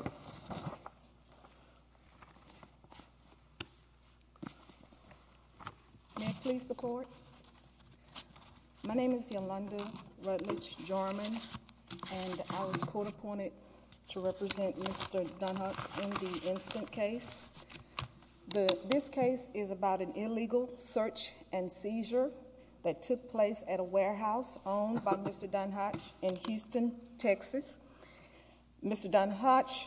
May I please the court? My name is Yolanda Rutledge Jarman and I was court appointed to represent Mr. Danhach in the instant case. This case is about an illegal search and seizure that took place at a warehouse owned by Mr. Danhach in Houston, Texas. Mr. Danhach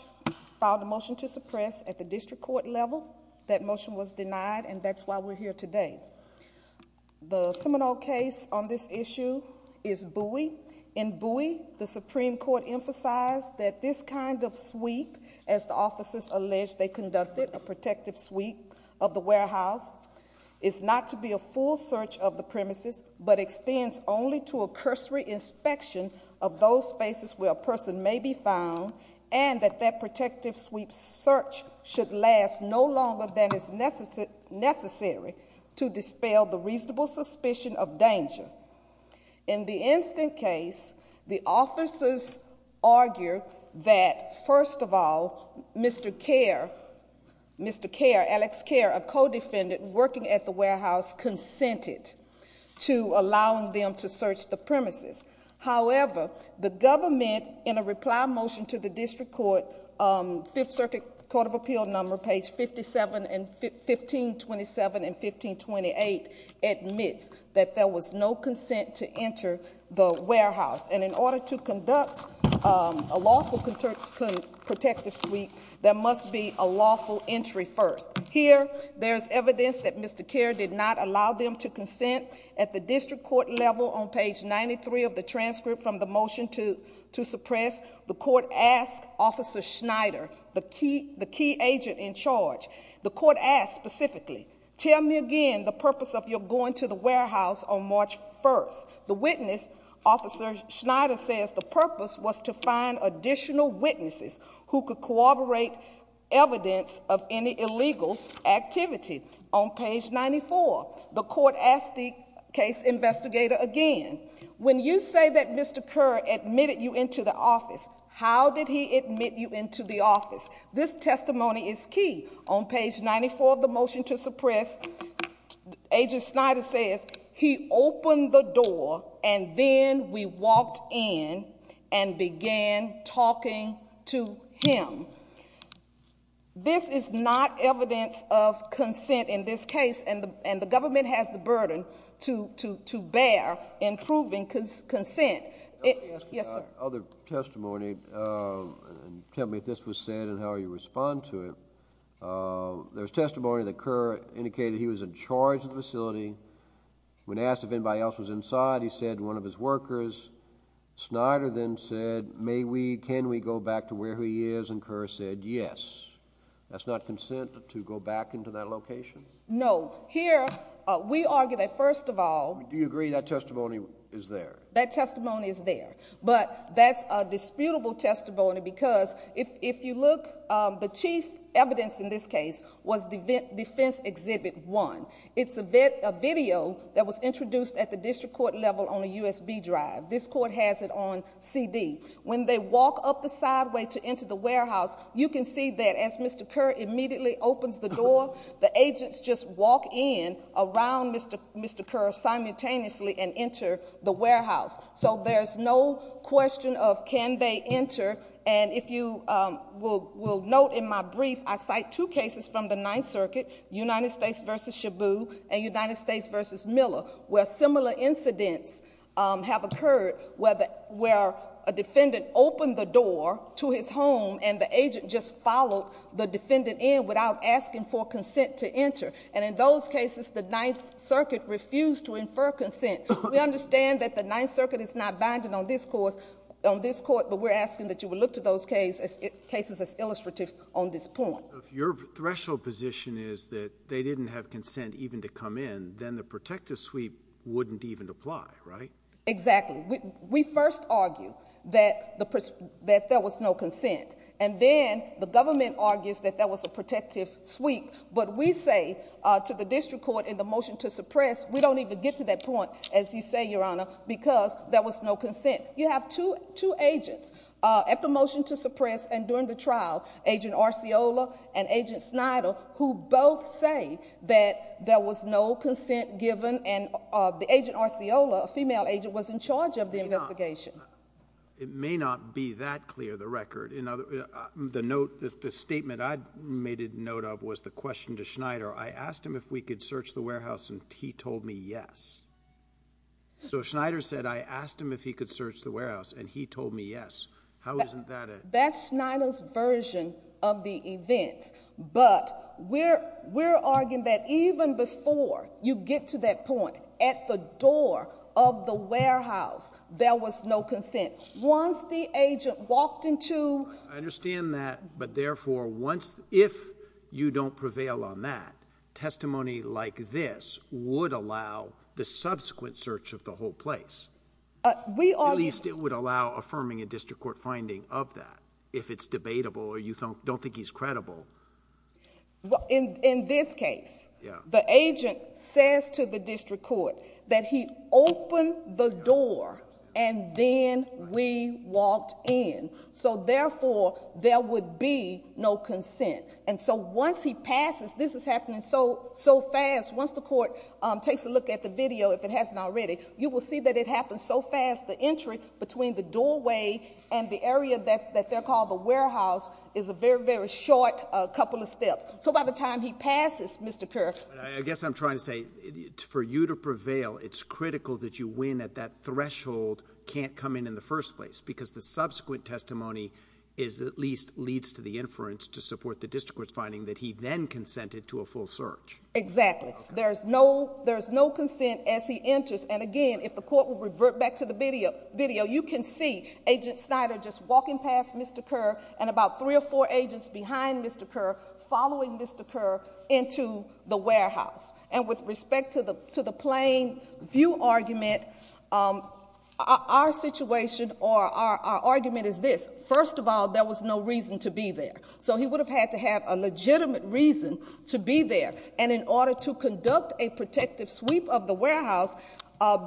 filed a motion to suppress at the district court level. That motion was denied and that's why we're here today. The seminal case on this issue is Bowie. In Bowie, the Supreme Court emphasized that this kind of sweep, as the officers alleged they conducted a protective sweep of the warehouse, is not to be a full search of the premises but extends only to a cursory inspection of those spaces where a person may be found and that that protective sweep search should last no longer than is necessary to dispel the reasonable suspicion of danger. In the instant case, the officers argue that, first of all, Mr. Kare, Mr. Kare, Alex Kare, a co-defendant working at the warehouse, consented to allowing them to search the premises. However, the government, in a reply motion to the district court, Fifth Circuit Court of Appeal number page 57 and 1527 and 1528 admits that there was no consent to enter the warehouse. And in order to conduct a lawful protective sweep, there must be a lawful entry first. Here, there's evidence that Mr. Kare did not allow them to consent. At the district court level on page 93 of the transcript from the motion to suppress, the court asked Officer Schneider, the key agent in charge, the court asked specifically, tell me again the purpose of your going to the warehouse on March 1st. The witness, Officer Schneider, says the purpose was to find additional witnesses who could corroborate evidence of any illegal activity. On page 94, the court asked the case investigator again, when you say that Mr. Kare admitted you into the office, how did he admit you into the office? This testimony is key. On page 94 of the motion to suppress, Agent Schneider says, he opened the door and then we walked in and began talking to him. This is not evidence of consent in this case, and the government has the burden to bear in proving consent. Yes, sir? Other testimony, tell me if this was said and how you respond to it. There's testimony that Kare indicated he was in charge of the facility. When asked if anybody else was inside, he said one of his workers. Schneider then said, may we, can we go back to where he is? And Kare said, yes. That's not consent to go back into that location? No. Here, we argue that first of all Do you agree that testimony is there? That testimony is there, but that's a disputable testimony because if you look, the chief evidence in this case was defense exhibit one. It's a video that was introduced at the district court level on a USB drive. This court has it on CD. When they walk up the sideway to enter the warehouse, you can see that as Mr. Kerr immediately opens the door, the agents just walk in around Mr. Kerr simultaneously and enter the warehouse. So there's no question of can they enter. And if you will note in my brief, I cite two cases from the Ninth Circuit, United States v. Shabu and United States v. Miller, where similar incidents have occurred where a defendant opened the door to his home and the agent just followed the defendant in without asking for consent to enter. And in those cases, the Ninth Circuit refused to infer consent. We understand that the Ninth Circuit is not binding on this court, but we're asking that you would look to those cases as illustrative on this point. Your threshold position is that they didn't have consent even to come in, then the protective sweep wouldn't even apply, right? Exactly. We first argued that there was no consent. And then the government argues that that was a protective sweep. But we say to the district court in the motion to suppress, we don't even get to that point, as you say, Your Honor, because there was no consent. You have two agents at the motion to suppress and during the trial, Agent Arceola and Agent Snyder, who both say that there was no consent given and the Agent Arceola, a female agent, was in charge of the investigation. It may not be that clear, the record. The statement I made a note of was the question to Snyder. I asked him if we could search the warehouse and he told me yes. So Snyder said I asked him if he could search the warehouse and he told me yes. How isn't that a That's Snyder's version of the events. But we're arguing that even before you get to that point, at the door of the warehouse, there was no consent. Once the agent walked into I understand that. But therefore, once if you don't prevail on that testimony like this would allow the subsequent search of the whole place. At least it would allow affirming a district court finding of that if it's debatable or you don't think he's credible. Well, in this case, the agent says to the district court that he opened the door and then we walked in. So therefore, there would be no consent. And so once he passes, this is happening so, so fast. Once the court takes a look at the video, if it hasn't already, you will see that it happens so fast. The entry between the doorway and the area that that they're called the warehouse is a very, very short couple of steps. So by the time he passes, Mr. Kerr, I guess I'm trying to say for you to prevail, it's critical that you win at that threshold can't come in in the first place because the subsequent testimony is at least leads to the inference to support the district court finding that he then consented to a full search. Exactly. There's no there's no consent as he enters. And again, if the Mr. Kerr and about three or four agents behind Mr. Kerr following Mr. Kerr into the warehouse and with respect to the to the plane view argument, um, our situation or our argument is this. First of all, there was no reason to be there. So he would have had to have a legitimate reason to be there. And in order to conduct a protective sweep of the warehouse,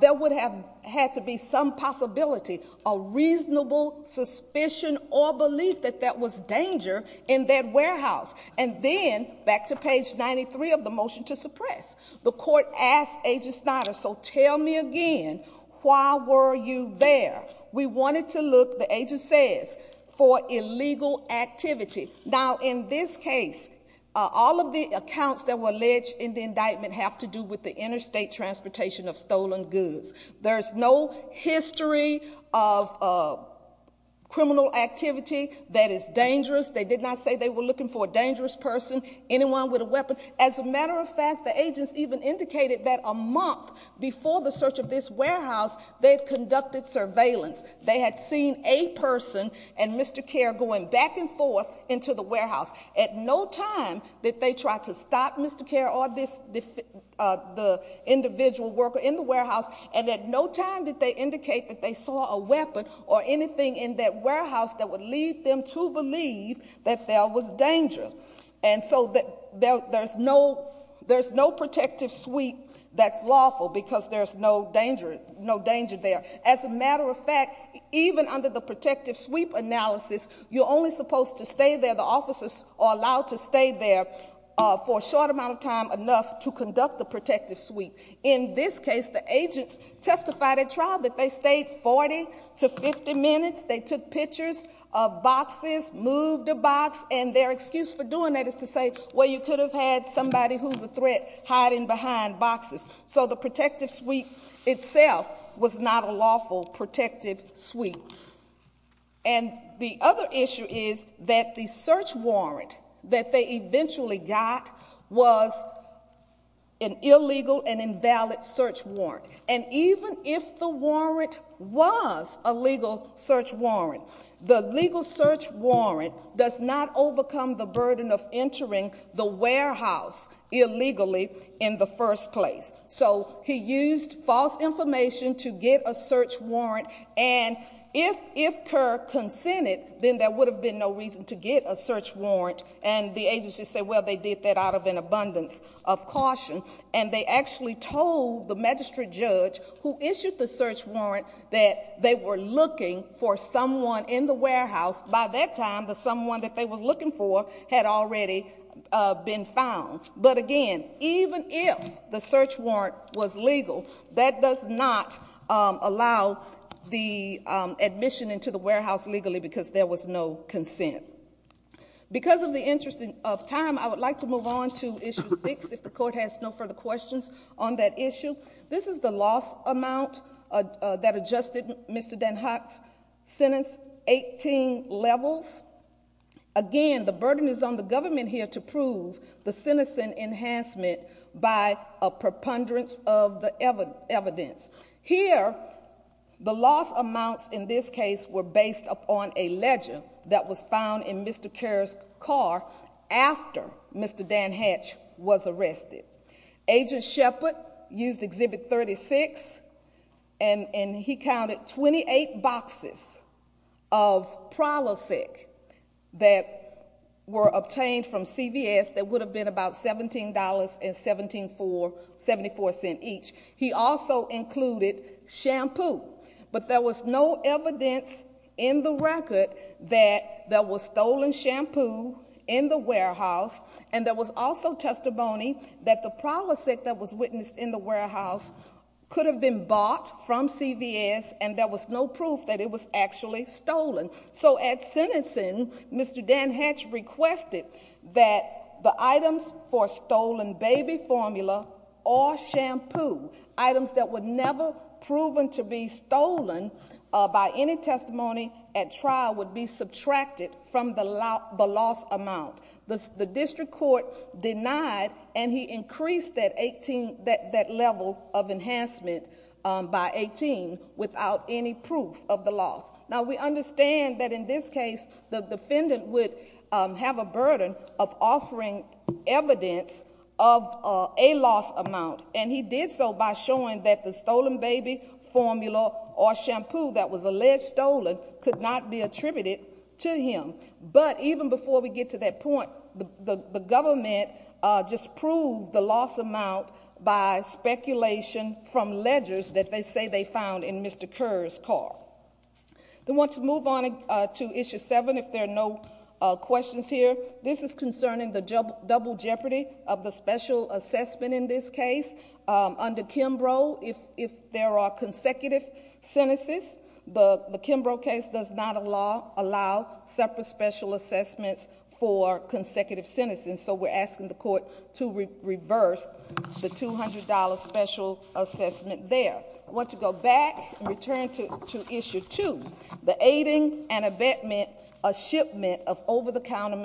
there would have had to be some possibility of reasonable suspicion or belief that that was danger in that warehouse. And then back to page 93 of the motion to suppress the court asked Agent Snyder. So tell me again, why were you there? We wanted to look, the agent says, for illegal activity. Now, in this case, all of the accounts that were alleged in the indictment have to do with the interstate transportation of stolen goods. There's no history of criminal activity that is dangerous. They did not say they were looking for a dangerous person, anyone with a weapon. As a matter of fact, the agents even indicated that a month before the search of this warehouse, they had conducted surveillance. They had seen a person and Mr. Kerr going back and forth into the warehouse at no time that they tried to stop Mr. Kerr or this the individual worker in the warehouse. And at no time did they indicate that they saw a weapon or anything in that warehouse that would lead them to believe that there was danger. And so there's no protective sweep that's lawful because there's no danger, no danger there. As a matter of fact, even under the protective sweep analysis, you're only supposed to stay there. The officers are allowed to stay there for a short amount of time enough to conduct the protective sweep. In this case, the agents testified at trial that they stayed 40 to 50 minutes. They took pictures of boxes, moved a box, and their excuse for doing that is to say, well, you could have had somebody who's a threat hiding behind boxes. So the protective sweep itself was not a lawful protective sweep. And the other issue is that the search warrant that they eventually got was an illegal and invalid search warrant. And even if the warrant was a legal search warrant, the legal search warrant does not overcome the burden of entering the warehouse illegally in the first place. So he used false information to get a search warrant. And if Kerr consented, then there would have been no reason to get a search warrant. And the agency said, well, they did that out of an abundance of caution. And they actually told the magistrate judge who issued the search warrant that they were looking for someone in the warehouse who had been found. But again, even if the search warrant was legal, that does not allow the admission into the warehouse legally because there was no consent. Because of the interest of time, I would like to move on to issue six, if the court has no further questions on that issue. This is the loss amount that adjusted Mr. Danhock's sentence, 18 levels. Again, the burden is on the government here to prove the sentencing enhancement by a preponderance of the evidence. Here, the loss amounts in this case were based upon a ledger that was found in Mr. Kerr's car after Mr. Danhatch was arrested. Agent Shepard used Exhibit 36, and he counted 28 boxes of Prilosec that were obtained from CVS that would have been about $17.74 each. He also included shampoo. But there was no evidence in the record that there was stolen shampoo in the warehouse. And there was also testimony that the Prilosec that was witnessed in the was actually stolen. So at sentencing, Mr. Danhatch requested that the items for stolen baby formula or shampoo, items that were never proven to be stolen by any testimony at trial, would be subtracted from the loss amount. The district court denied, and he increased that level of enhancement by 18 without any proof of the loss. Now, we understand that in this case, the defendant would have a burden of offering evidence of a loss amount, and he did so by showing that the stolen baby formula or shampoo that was alleged stolen could not be attributed to him. But even before we get to that point, the government just proved the loss amount by speculation from ledgers that they say they found in Mr. Kerr's car. I want to move on to Issue 7, if there are no questions here. This is concerning the double jeopardy of the special assessment in this case. Under Kimbrough, if there are consecutive sentences, the Kimbrough case does not allow separate special assessments for consecutive sentences. So we're asking the court to reverse the $200 special assessment there. I want to go back and return to Issue 2, the aiding and abetment, a shipment of over-the-counter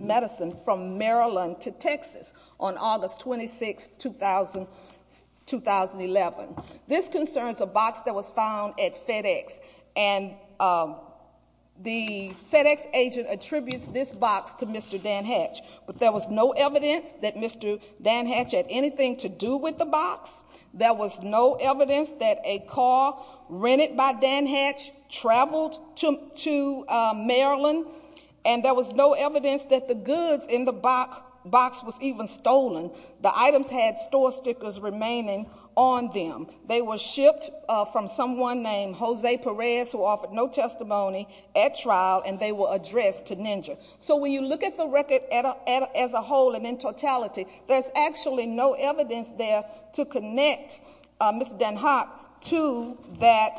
medicine from Maryland to Texas on August 26, 2011. This concerns a box that was found at FedEx, and the FedEx agent attributes this box to Mr. Danhatch. But there was no evidence that Mr. Danhatch had anything to do with the box. There was no evidence that a car rented by Danhatch traveled to Maryland, and there was no evidence that the goods in the box was even stolen. The items had store stickers remaining on them. They were shipped from someone named Jose Perez, who offered no testimony at trial, and they were addressed to Ninja. So when you look at the record as a whole and in totality, there's actually no evidence there to connect Mr. Danhatch to that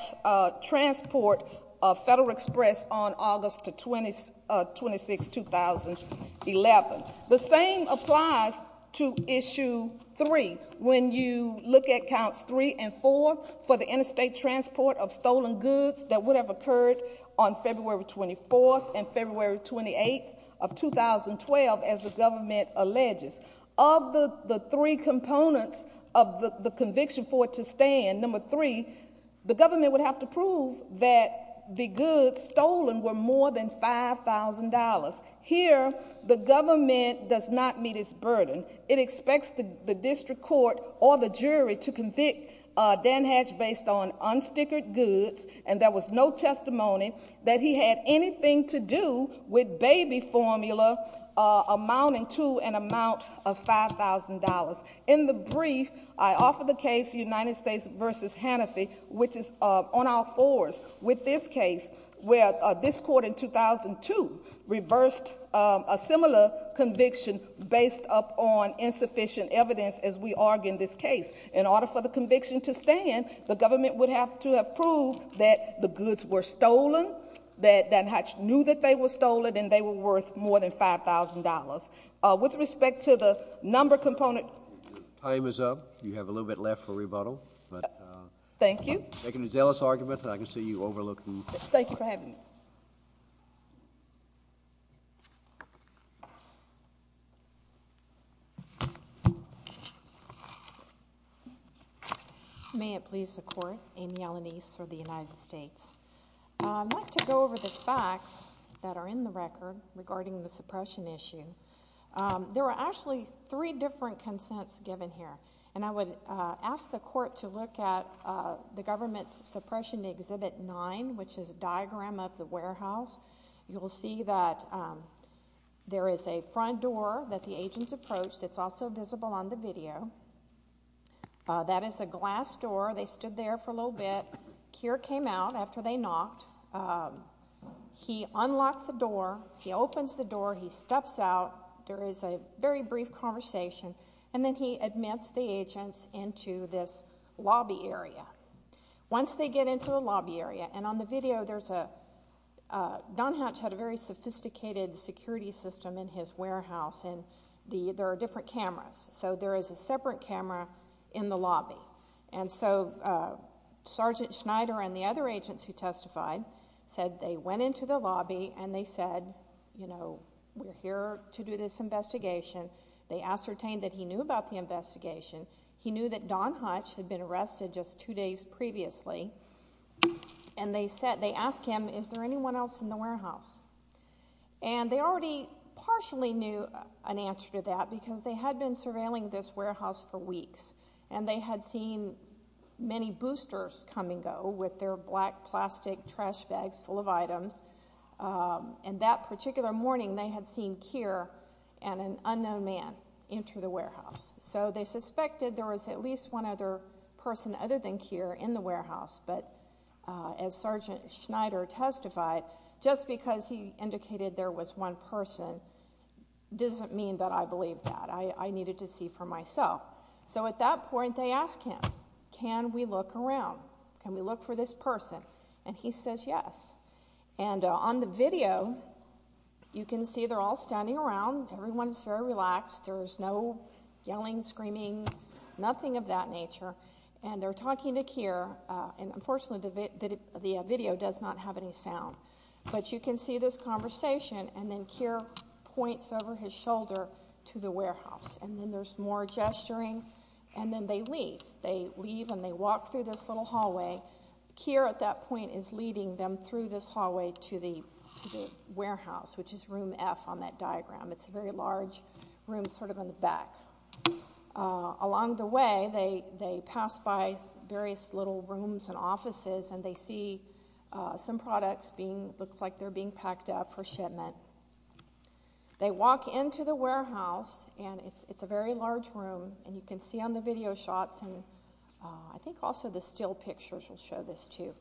transport of Federal Express on August 26, 2011. The same applies to Issue 3 when you look at Counts 3 and 4 for the interstate transport of stolen goods that would have occurred on February 24 and February 28 of 2012, as the government alleges. Of the three components of the conviction for it to stand, number three, the government would have to prove that the goods stolen were more than $5,000. Here, the government does not meet its burden. It expects the district court or the jury to convict Danhatch based on unstickered goods, and there was no testimony that he had anything to do with baby formula amounting to an amount of $5,000. In the brief, I offer the case United States v. Hannafie, which is on our fours with this case, where this court in 2002 reversed a similar conviction based upon insufficient evidence as we argue in this case. In order for the conviction to stand, the government would have to have proved that the goods were stolen, that they were worth more than $5,000. With respect to the number component... Your time is up. You have a little bit left for rebuttal. Thank you. I'm taking a zealous argument, and I can see you overlooking... Thank you for having me. May it please the Court, Amy Ellenise for the United States. I'd like to go over the facts that are in the record regarding the suppression issue. There were actually three different consents given here, and I would ask the Court to look at the government's Suppression Exhibit 9, which is a diagram of the warehouse. You will see that there is a front door that the agents approached. It's also visible on the video. That is a glass door. They stood there for a little bit. Keir came out after they knocked. He unlocked the door. He opens the door. He steps out. There is a very brief conversation. Then he admits the agents into this lobby area. Once they get into the lobby area, and on the video, Don Hutch had a very sophisticated security system in his warehouse. There are different cameras. There is a separate camera in the lobby. Sergeant Schneider and the other agents who testified said they went into the lobby, and they said, you know, we're here to do this investigation. They ascertained that he knew about the investigation. He knew that Don Hutch had been arrested just two days previously. They asked him, is there anyone else in the warehouse? They already partially knew an answer to that because they had been surveilling this warehouse for weeks. They had seen many boosters come and go with their black plastic trash bags full of items. That particular morning, they had seen Keir and an unknown man enter the warehouse. They suspected there was at least one other person other than Keir in the warehouse. As Sergeant Schneider testified, just because he indicated there was one person doesn't mean that I believe that. I needed to see for myself. So at that point, they asked him, can we look around? Can we look for this person? And he says yes. And on the video, you can see they're all standing around. Everyone's very relaxed. There's no yelling, screaming, nothing of that nature. And they're talking to Keir, and unfortunately, the video does not have any sound. But you can see this conversation, and then Keir points over his shoulder to the warehouse. And then there's more gesturing, and then they leave. They leave, and they walk through this little hallway. Keir at that point is leading them through this hallway to the warehouse, which is room F on that diagram. It's a very large room sort of in the back. Along the way, they pass by various little rooms and offices, and they see some products being, looks like they're being packed up for shipment. They walk into the warehouse, and it's a very large room. And you can see on the video shots, and I think also the still pictures will show this too.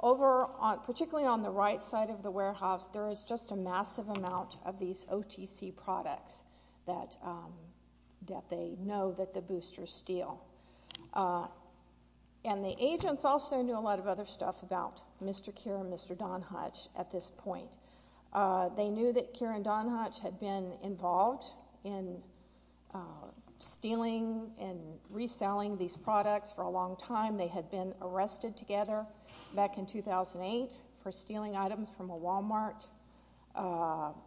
Over, particularly on the right side of the warehouse, there is just a massive amount of these OTC products that they know that the boosters steal. And the agents also knew a lot of other stuff about Mr. Keir and Mr. Don Hutch at this point. They knew that Keir and Don Hutch had been involved in stealing and reselling these products. And they knew that they were going to get a lot of money from Walmart.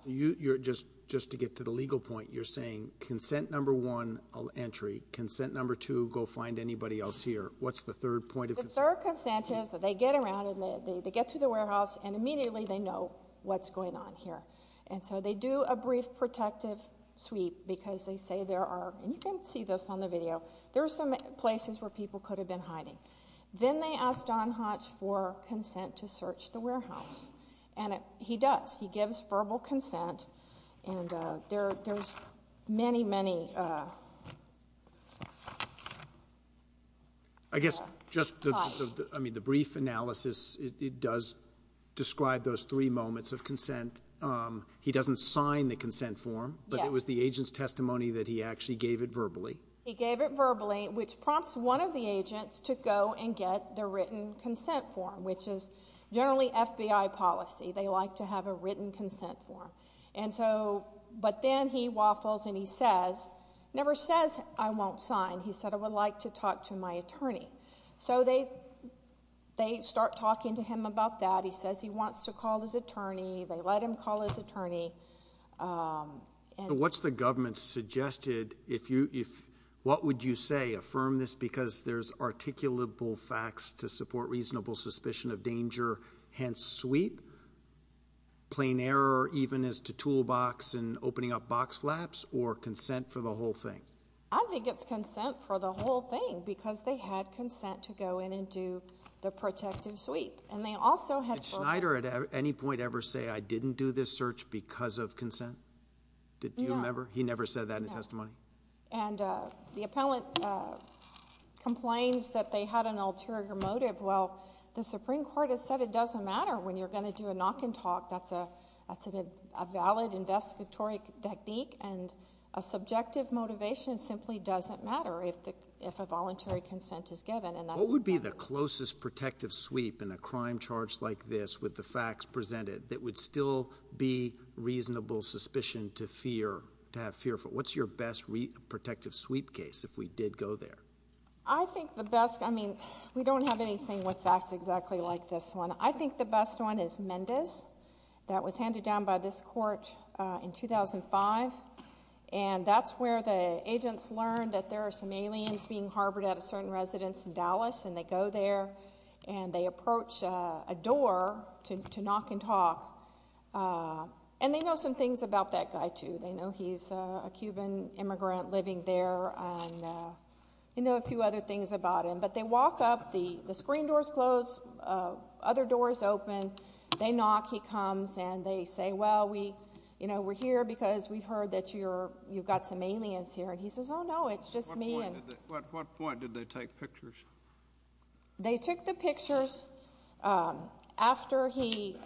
You're just, just to get to the legal point, you're saying consent number one, entry. Consent number two, go find anybody else here. What's the third point of consent? The third consent is that they get around and they get to the warehouse, and immediately they know what's going on here. And so they do a brief protective sweep because they say there are, and you can see this on the video, there's some places where people could have been hiding. Then they asked Don Hutch for consent to search the warehouse. And he does, he gives verbal consent. And there's many, many, I guess just the, I mean, the brief analysis, it does describe those three moments of consent. He doesn't sign the consent form, but it was the agent's testimony that he actually gave it written consent form, which is generally FBI policy. They like to have a written consent form. And so, but then he waffles and he says, never says, I won't sign. He said, I would like to talk to my attorney. So they, they start talking to him about that. He says he wants to call his attorney. They let him call his attorney. And what's the government suggested if you, what would you say, affirm this because there's articulable facts to support reasonable suspicion of danger, hence sweep, plain error, even as to toolbox and opening up box flaps or consent for the whole thing? I think it's consent for the whole thing because they had consent to go in and do the protective sweep. And they also had... Did Schneider at any point ever say, I didn't do this because of consent? Did you remember? He never said that in his testimony. And the appellant complains that they had an ulterior motive. Well, the Supreme Court has said it doesn't matter when you're going to do a knock and talk. That's a, that's a valid investigatory technique and a subjective motivation simply doesn't matter if the, if a voluntary consent is given. What would be the closest protective sweep in a crime charge like this with the facts presented that would still be reasonable suspicion to fear, to have fear for? What's your best protective sweep case if we did go there? I think the best, I mean, we don't have anything with facts exactly like this one. I think the best one is Mendes. That was handed down by this court in 2005. And that's where the agents learned that there are some aliens being harbored at a certain residence in Dallas. And they go there and they approach a door to, to knock and talk. And they know some things about that guy too. They know he's a Cuban immigrant living there and they know a few other things about him. But they walk up, the, the screen doors close, other doors open. They knock, he comes and they say, well, we, you know, we're here because we've heard that you're, you've got some aliens here. And he says, no, it's just me. At what point did they take pictures? They took the pictures after he,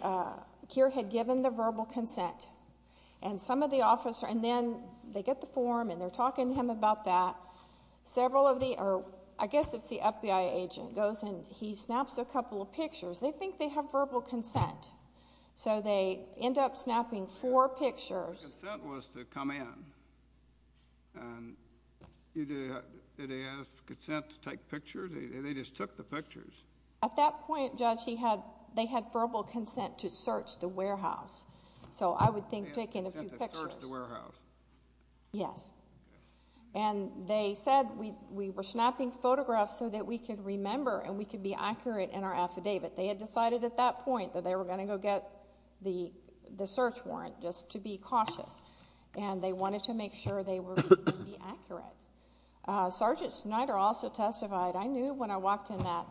Keir had given the verbal consent. And some of the officers, and then they get the form and they're talking to him about that. Several of the, or I guess it's the FBI agent, goes and he snaps a couple of pictures. They think they have verbal consent. So they end up snapping four pictures. And you do, did they ask consent to take pictures? They, they just took the pictures. At that point, Judge, he had, they had verbal consent to search the warehouse. So I would think taking a few pictures. Consent to search the warehouse. Yes. And they said we, we were snapping photographs so that we could remember and we could be accurate in our affidavit. They had decided at that point that they were going to go the, the search warrant, just to be cautious. And they wanted to make sure they were going to be accurate. Sergeant Snyder also testified, I knew when I walked in that,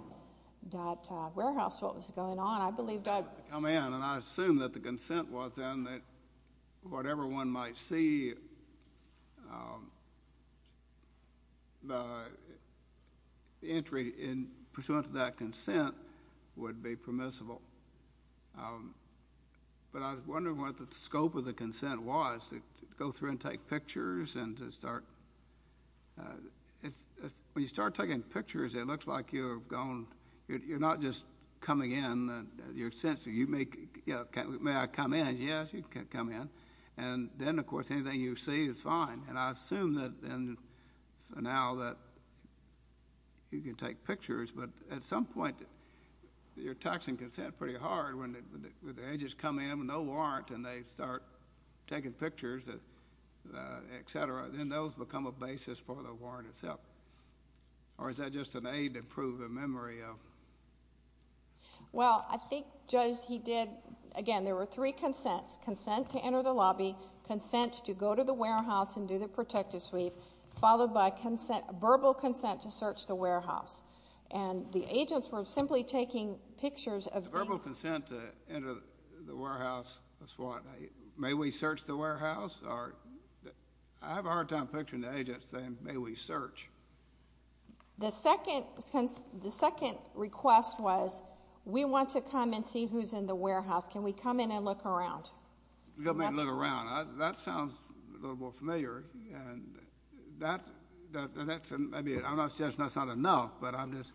that warehouse what was going on. I believed I'd come in. And I assumed that the consent was then that whatever one might see, the entry in pursuant to that consent would be permissible. But I was wondering what the scope of the consent was, to go through and take pictures and to start, it's, when you start taking pictures, it looks like you're gone, you're not just coming in, you're essentially, you make, you know, may I come in? Yes, you can come in. And then, of course, anything you see is fine. And I assume that then, now that you can take pictures, but at some point, you're taxing consent pretty hard when the agents come in with no warrant and they start taking pictures, et cetera, then those become a basis for the warrant itself. Or is that just an aid to prove a memory of? Well, I think, Judge, he did, again, there were three consents. Consent to enter the lobby, consent to go to the warehouse and do the protective sweep, followed by verbal consent to search the warehouse. And the agents were simply taking pictures of things. Verbal consent to enter the warehouse, that's what. May we search the warehouse? The second, the second request was, we want to come and see who's in the warehouse. Can we come in and look around? Come in and look around. That sounds a little more familiar. And that, that's, I mean, I'm not suggesting that's not enough, but I'm just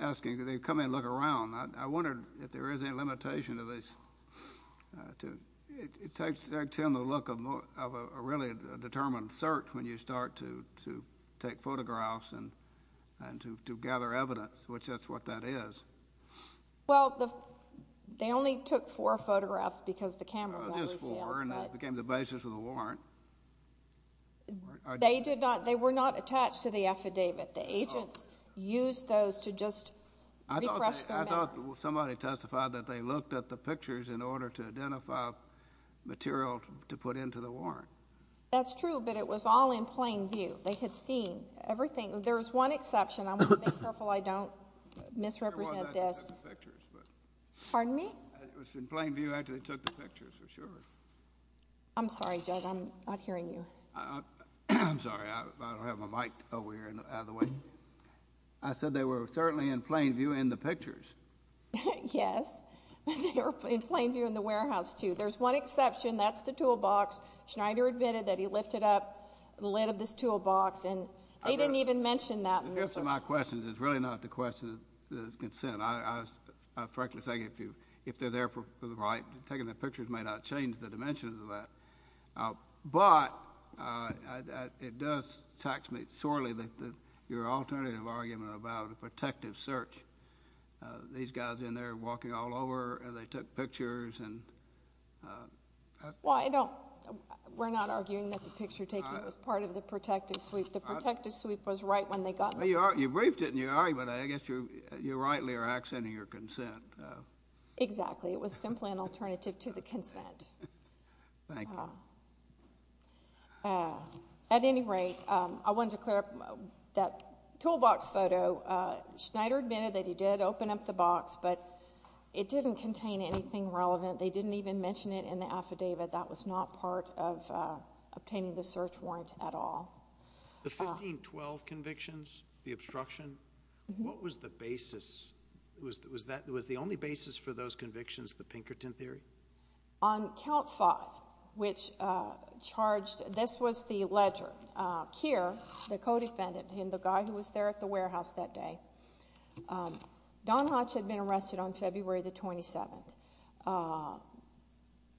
asking, can they come in and look around? I wondered if there is any limitation to this, to, it takes, it takes in the look of more, of a really determined search when you start to, to take photographs and, and to, to gather evidence, which that's what that is. Well, the, they only took four photographs because the camera never failed. Oh, just four and that became the basis of the warrant. They did not, they were not attached to the affidavit. The agents used those to just refresh their memory. I thought, I thought somebody testified that they looked at the pictures in order to identify material to put into the warrant. That's true, but it was all in plain view. They had seen everything. There was one exception. I'm going to be careful I don't misrepresent this. Pardon me? It was in plain view after they took the pictures, for sure. I'm sorry, Judge, I'm not hearing you. I'm sorry, I don't have my mic over here out of the way. I said they were certainly in plain view in the pictures. Yes, they were in plain view in the warehouse, too. There's one exception. That's the toolbox. Schneider admitted that he lifted up the lid of this toolbox and they didn't even mention that. The answer to my question is it's really not the question that is consent. I frankly say if you, if they're there for the right, taking the pictures may not change the dimensions of that, but it does tax me sorely that your alternative argument about a protective search, these guys in there walking all over and they took pictures and... Well, I don't, we're not arguing that the picture taking was part of the protective sweep. The protective sweep was right when they got there. You briefed it in your argument. I guess you rightly are accenting your consent. Exactly. It was simply an alternative to the consent. Thank you. At any rate, I wanted to clear up that toolbox photo. Schneider admitted that he did open up the box, but it didn't contain anything relevant. They didn't even mention it in the affidavit. That was not part of obtaining the search warrant at all. The 1512 convictions, the obstruction, what was the basis? Was that, was the only basis for those convictions, the Pinkerton theory? On Count Foth, which charged, this was the ledger, Keir, the co-defendant, him, the guy who was there at the warehouse that day. Don Hutch had been arrested on February the 27th.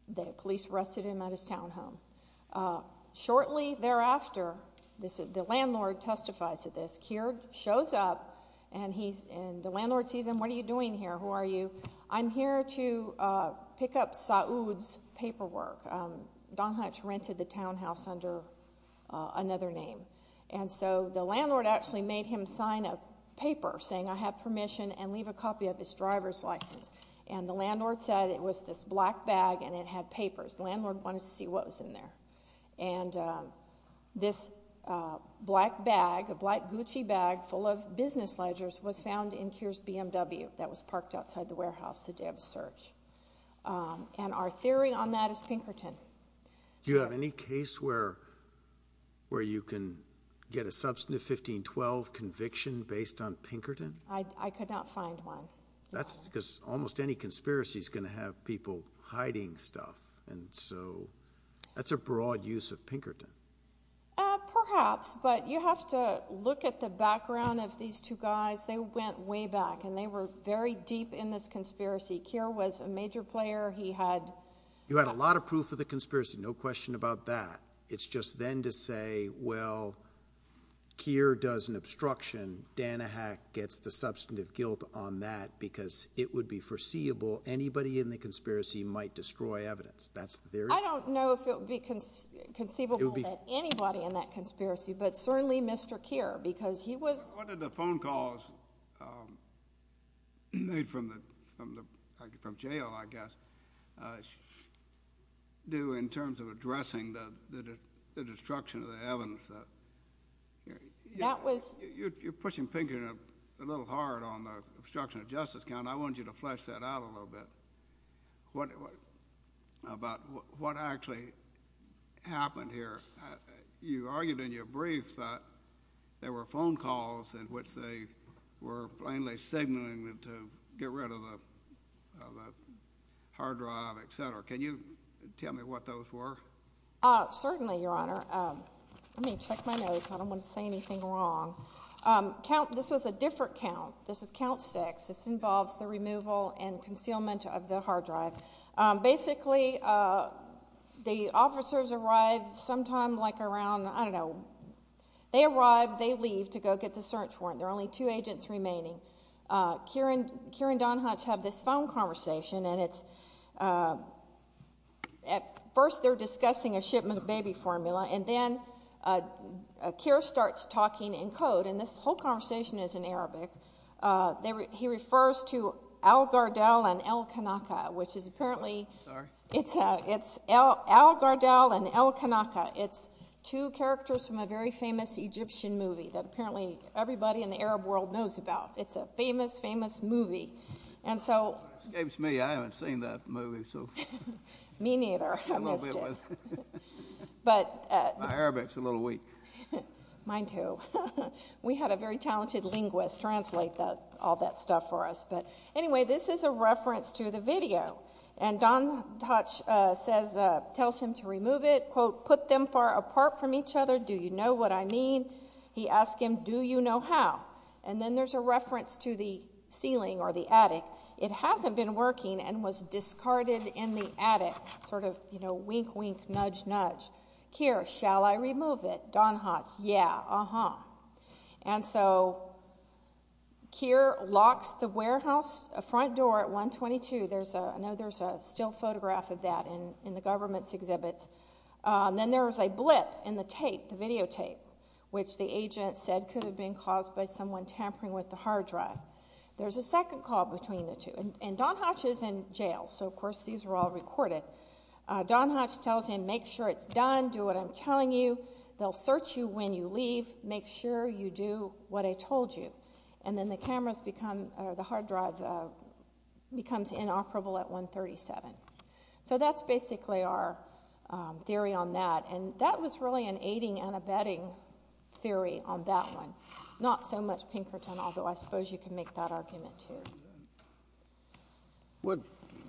The police arrested him at his townhome. Shortly thereafter, the landlord testifies to this. Keir shows up and he's, and the landlord sees him. What are you doing here? Who are you? I'm here to pick up Saud's paperwork. Don Hutch rented the townhouse under another name. And so the landlord actually made him sign a paper saying, I have permission and leave a copy of his driver's license. And the landlord said it was this black bag and it had papers. The landlord wanted to see what was in there. And this black bag, a black Gucci bag full of business ledgers was found in Keir's BMW that was parked outside the warehouse the day of the search. And our theory on that is Pinkerton. Do you have any case where, where you can get a substantive 1512 conviction based on Pinkerton? I could not find one. That's because almost any conspiracy is going to have people hiding stuff. And so that's a broad use of Pinkerton. Perhaps, but you have to look at the background of these two guys. They went way back and they were very deep in this conspiracy. Keir was a major player. He had. You had a lot of proof of the conspiracy. No question about that. It's just then to say, well, Keir does an obstruction. Danahack gets the substantive guilt on that because it would be foreseeable. Anybody in the conspiracy might destroy evidence. That's the theory. I don't know if it would be conceivable that anybody in that conspiracy, but certainly Mr. Keir, because he was. What did the phone calls made from the, from the, from jail, I guess, do in terms of addressing the, the, the destruction of the evidence? That was. You're, you're pushing Pinkerton a little hard on the obstruction of justice count. I want you to flesh that out a little bit. What about what actually happened here? You argued in your brief that there were phone calls in which they were plainly signaling them to get rid of the, of the hard drive, et cetera. Can you tell me what those were? Certainly, Your Honor. Let me check my notes. I don't want to say anything wrong. Count, this was a different count. This is count six. This involves the removal and concealment of the hard drive. Basically, the officers arrive sometime like around, I don't know, they arrive, they leave to go get the search warrant. There are only two agents remaining. Keir and, Keir and Don Hutch have this phone conversation and it's, at first they're discussing a shipment of baby formula and then Keir starts talking in code and this whole conversation is in Arabic. They were, he refers to Al-Gardel and Al-Kanaka, which is apparently, sorry, it's, it's Al-Gardel and Al-Kanaka. It's two characters from a very famous Egyptian movie that apparently everybody in the Arab world knows about. It's a famous, famous movie. And so, It escapes me. I haven't seen that movie, so. Me neither. I missed it. But, My Arabic's a little weak. Mine too. We had a very talented linguist translate that, all that stuff for us. But anyway, this is a reference to the video and Don Hutch says, tells him to remove it, quote, put them far apart from each other. Do you know what I mean? He asked him, do you know how? And then there's a reference to the ceiling or the attic. It hasn't been working and was uh-huh. And so, Keir locks the warehouse front door at 122. There's a, I know there's a still photograph of that in the government's exhibits. Then there was a blip in the tape, the video tape, which the agent said could have been caused by someone tampering with the hard drive. There's a second call between the two and Don Hutch is in jail. So, of course, these were all recorded. Don Hutch tells him, make sure it's done. Do what I'm telling you. They'll search you when you leave. Make sure you do what I told you. And then the cameras become, the hard drive becomes inoperable at 137. So, that's basically our theory on that and that was really an aiding and abetting theory on that one. Not so much Pinkerton, although I suppose you can make that argument too. What,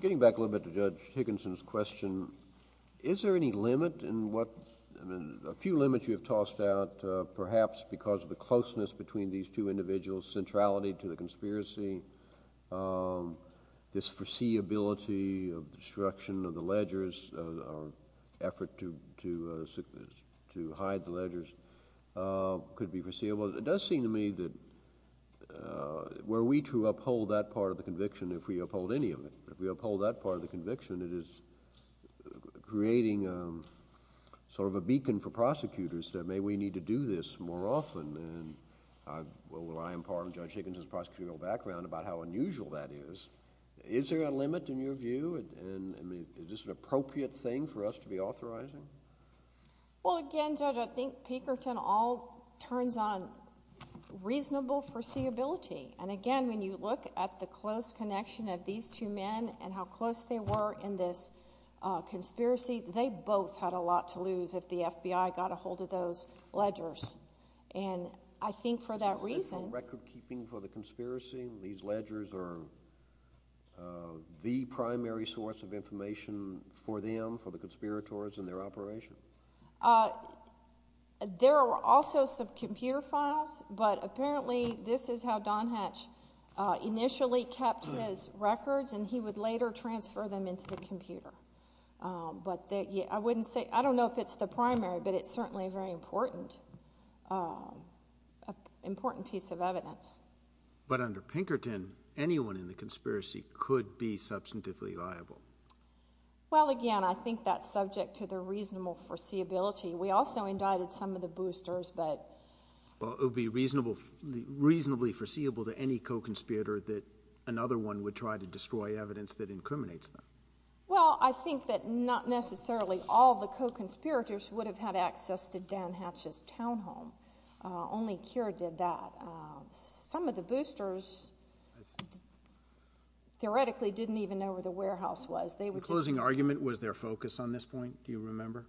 getting back a little bit to Judge McClellan, there are a few limits you have tossed out, perhaps because of the closeness between these two individuals, centrality to the conspiracy, this foreseeability of destruction of the ledgers, effort to hide the ledgers could be foreseeable. It does seem to me that were we to uphold that part of the conviction, if we uphold any of it, if we uphold that part of the conviction, it is creating sort of a beacon for prosecutors that maybe we need to do this more often. Well, I am part of Judge Higginson's prosecutorial background about how unusual that is. Is there a limit in your view and is this an appropriate thing for us to be authorizing? Well, again, Judge, I think Pinkerton all turns on reasonable foreseeability. And again, when you look at the close connection of these two men and how close they were in this conspiracy, they both had a lot to lose if the FBI got a hold of those ledgers. And I think for that reason. Is there record keeping for the conspiracy? These ledgers are the primary source of information for them, for the conspirators and their operation? There are also some computer files, but apparently this is how Don Hatch initially kept his records and he would later transfer them into the computer. But I wouldn't say, I don't know if it's the primary, but it's certainly a very important piece of evidence. But under Pinkerton, anyone in the conspiracy could be substantively liable. Well, again, I think that's subject to the reasonable foreseeability. We also indicted some of the boosters, but. Well, it would be reasonably foreseeable to any co-conspirator that another one would try to destroy evidence that incriminates them. Well, I think that not necessarily all the co-conspirators would have had access to Don Hatch's townhome. Only Cure did that. Some of the boosters theoretically didn't even know where the warehouse was. The closing argument was their focus on this point, do you remember?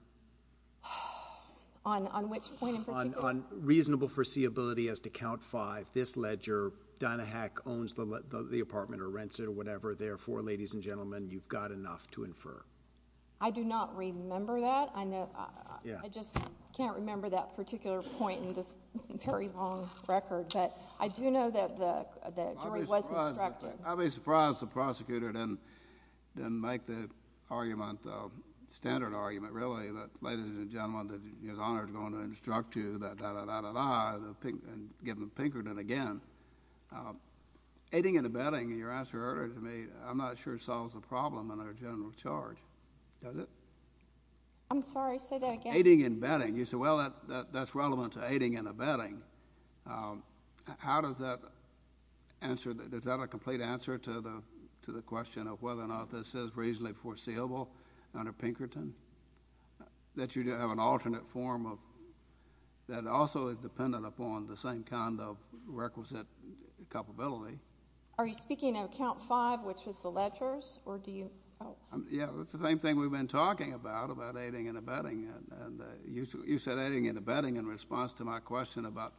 On which point in particular? On reasonable foreseeability as to count five, this ledger, Don Hatch owns the apartment or rents it or whatever. Therefore, ladies and gentlemen, you've got enough to infer. I do not remember that. I just can't remember that particular point in this very long record, but I do know that the jury was instructed. I'd be surprised if the prosecutor didn't make the argument, the standard argument, really, that ladies and gentlemen, that his honor is going to instruct you, that da, da, da, da, da, and give them Pinkerton again. Aiding and abetting, your answer earlier to me, I'm not sure it solves the problem under general charge. Does it? I'm sorry, say that again. Aiding and abetting. You said, well, that's relevant to aiding and abetting. How does that answer, is that a complete answer to the question of whether or not this is reasonably foreseeable under Pinkerton? That you have an alternate form of, that also is dependent upon the same kind of requisite culpability. Are you speaking of count five, which was the ledgers, or do you, oh. Yeah, it's the same thing we've been talking about, about aiding and abetting. You said aiding and abetting in response to my question about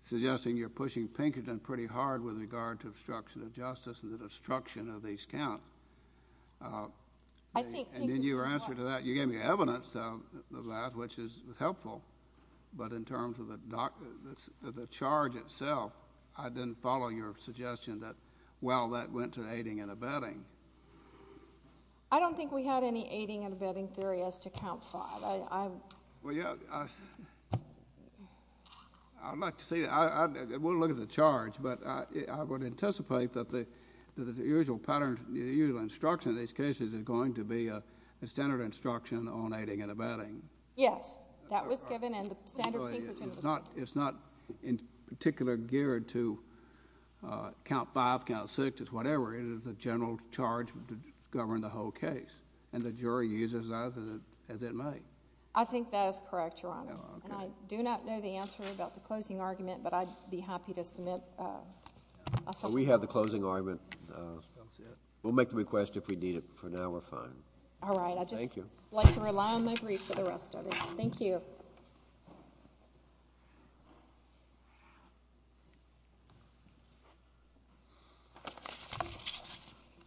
suggesting you're pushing Pinkerton pretty hard with regard to obstruction of justice and the destruction of these counts. I think Pinkerton's helpful. And then your answer to that, you gave me evidence of that, which is helpful, but in terms of the charge itself, I didn't follow your suggestion that, well, that went to aiding and abetting. I don't think we had any aiding and abetting theory as to count five. I'd like to see, I wouldn't look at the charge, but I would anticipate that the usual instruction in these cases is going to be a standard instruction on aiding and abetting. Yes, that was given, and the standard Pinkerton was given. It's not in particular geared to count five, count six, it's whatever. It is a general charge to govern the whole case, and the jury uses that as it may. I think that is correct, Your Honor, and I do not know the answer about the closing argument, but I'd be happy to submit a supplement. We have the closing argument. We'll make the request if we need it. For now, we're fine. All right, I'd just like to rely on my brief for the rest of it. Thank you.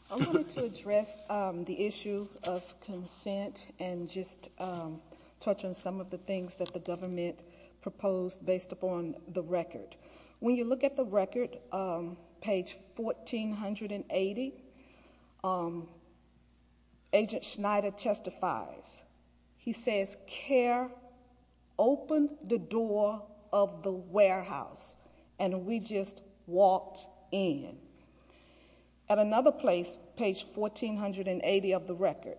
I wanted to address the issue of consent and just touch on some of the things that the government proposed based upon the record. When you look at the record, page 1480, Agent Schneider testifies. He says, Care opened the door of the warehouse, and we just walked in. At another place, page 1480 of the record,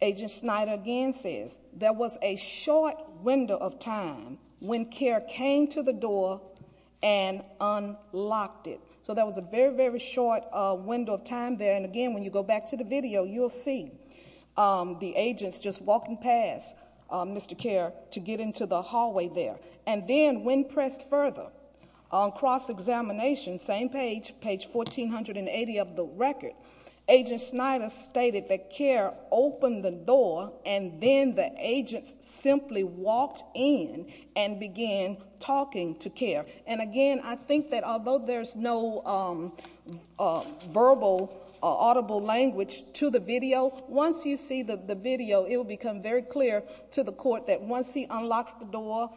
Agent Schneider again says, there was a short window of time when Care came to the door and unlocked it. So there was a very, very short window of time there, and again, when you go back to the video, you'll see the agents just walking past Mr. Care to get into the hallway there. And then, when pressed further, on cross-examination, same page, page 1480 of the record, Agent Schneider stated that Care opened the door, and then the agents simply walked in and began talking to Care. And again, I think that although there's no verbal or audible language to the video, once you see the video, it will become very clear to the court that once he unlocks the door,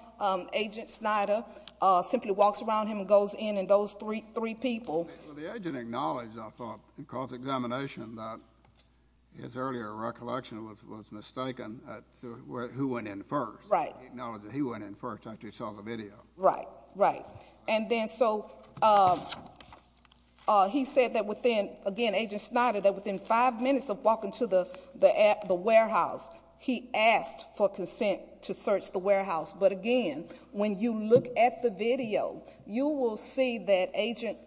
Agent Schneider simply walks around him and goes in, and those three people- Well, the agent acknowledged, I thought, in cross-examination that his earlier recollection was mistaken at who went in first. Right. He acknowledged that he went in first after he saw the video. Right, right. And then so he said that within, again, Agent Schneider, that within five minutes of walking to the warehouse, he asked for consent to search the warehouse. But again, when you look at the video, you will see that Agent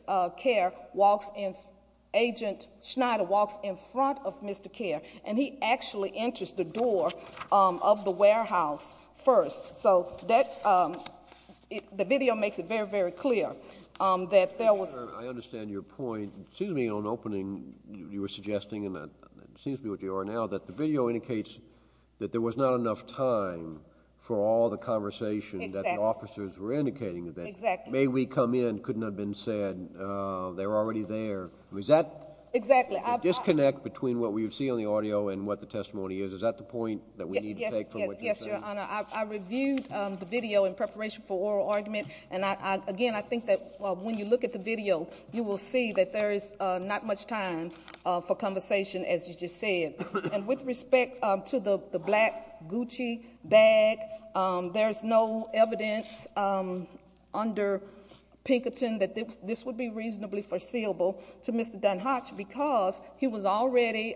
Schneider walks in front of Mr. Care, and he actually enters the door of the warehouse first. So the video makes it very, very clear that there was- I understand your point. It seems to me on opening, you were suggesting, and it seems to me what you are now, that the video indicates that there was not enough time for all the conversation that the officers were indicating. Exactly. May we come in? Couldn't have been said. They were already there. Is that- Exactly. The disconnect between what we see on the audio and what the testimony is, is that the point that we need to take from what you're saying? Yes, Your Honor. I reviewed the video in preparation for oral argument, and again, I think that when you look at the video, you will see that there is not much time for conversation, as you just said. And with respect to the black Gucci bag, there is no evidence under Pinkerton that this would be reasonably foreseeable to Mr. Dunhatch because he was already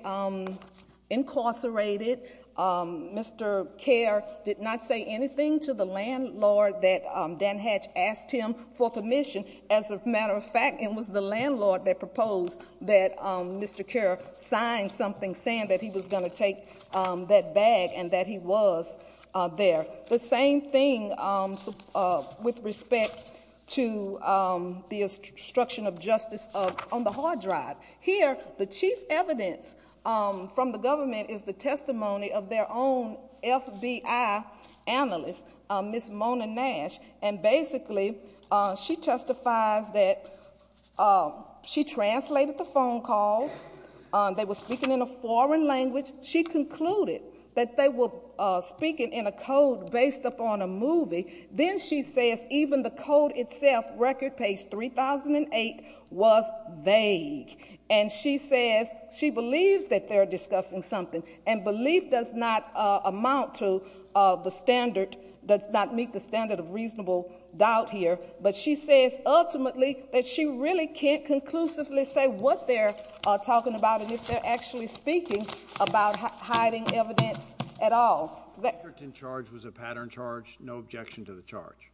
incarcerated. Mr. Care did not say anything to the landlord that Dunhatch asked him for permission. As a matter of fact, it was the landlord that proposed that Mr. Care sign something saying that he was going to take that bag and that he was there. The same thing with respect to the obstruction of justice on the hard drive. Here, the chief evidence from the government is the testimony of their own FBI analyst, Ms. Mona Nash. And basically, she testifies that she translated the phone calls. They were speaking in a foreign language. She concluded that they were speaking in a code based upon a movie. Then she says even the code itself, record page 3008, was vague. And she says she believes that they're discussing something. And belief does not amount to the standard, does not meet the standard of reasonable doubt here. But she says ultimately that she really can't conclusively say what they're talking about and if they're actually speaking about hiding evidence at all. The Pinkerton charge was a pattern charge. No objection to the charge.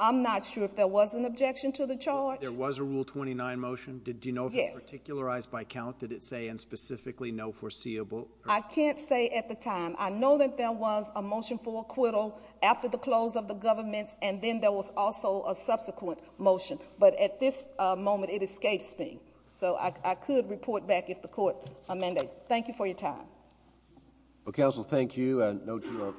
I'm not sure if there was an objection to the charge. There was a Rule 29 motion. Did you know if it was particularized by count? Did it say specifically no foreseeable? I can't say at the time. I know that there was a motion for acquittal after the close of the government. And then there was also a subsequent motion. But at this moment, it escapes me. So I could report back if the court mandates. Thank you for your time. Well, counsel, thank you.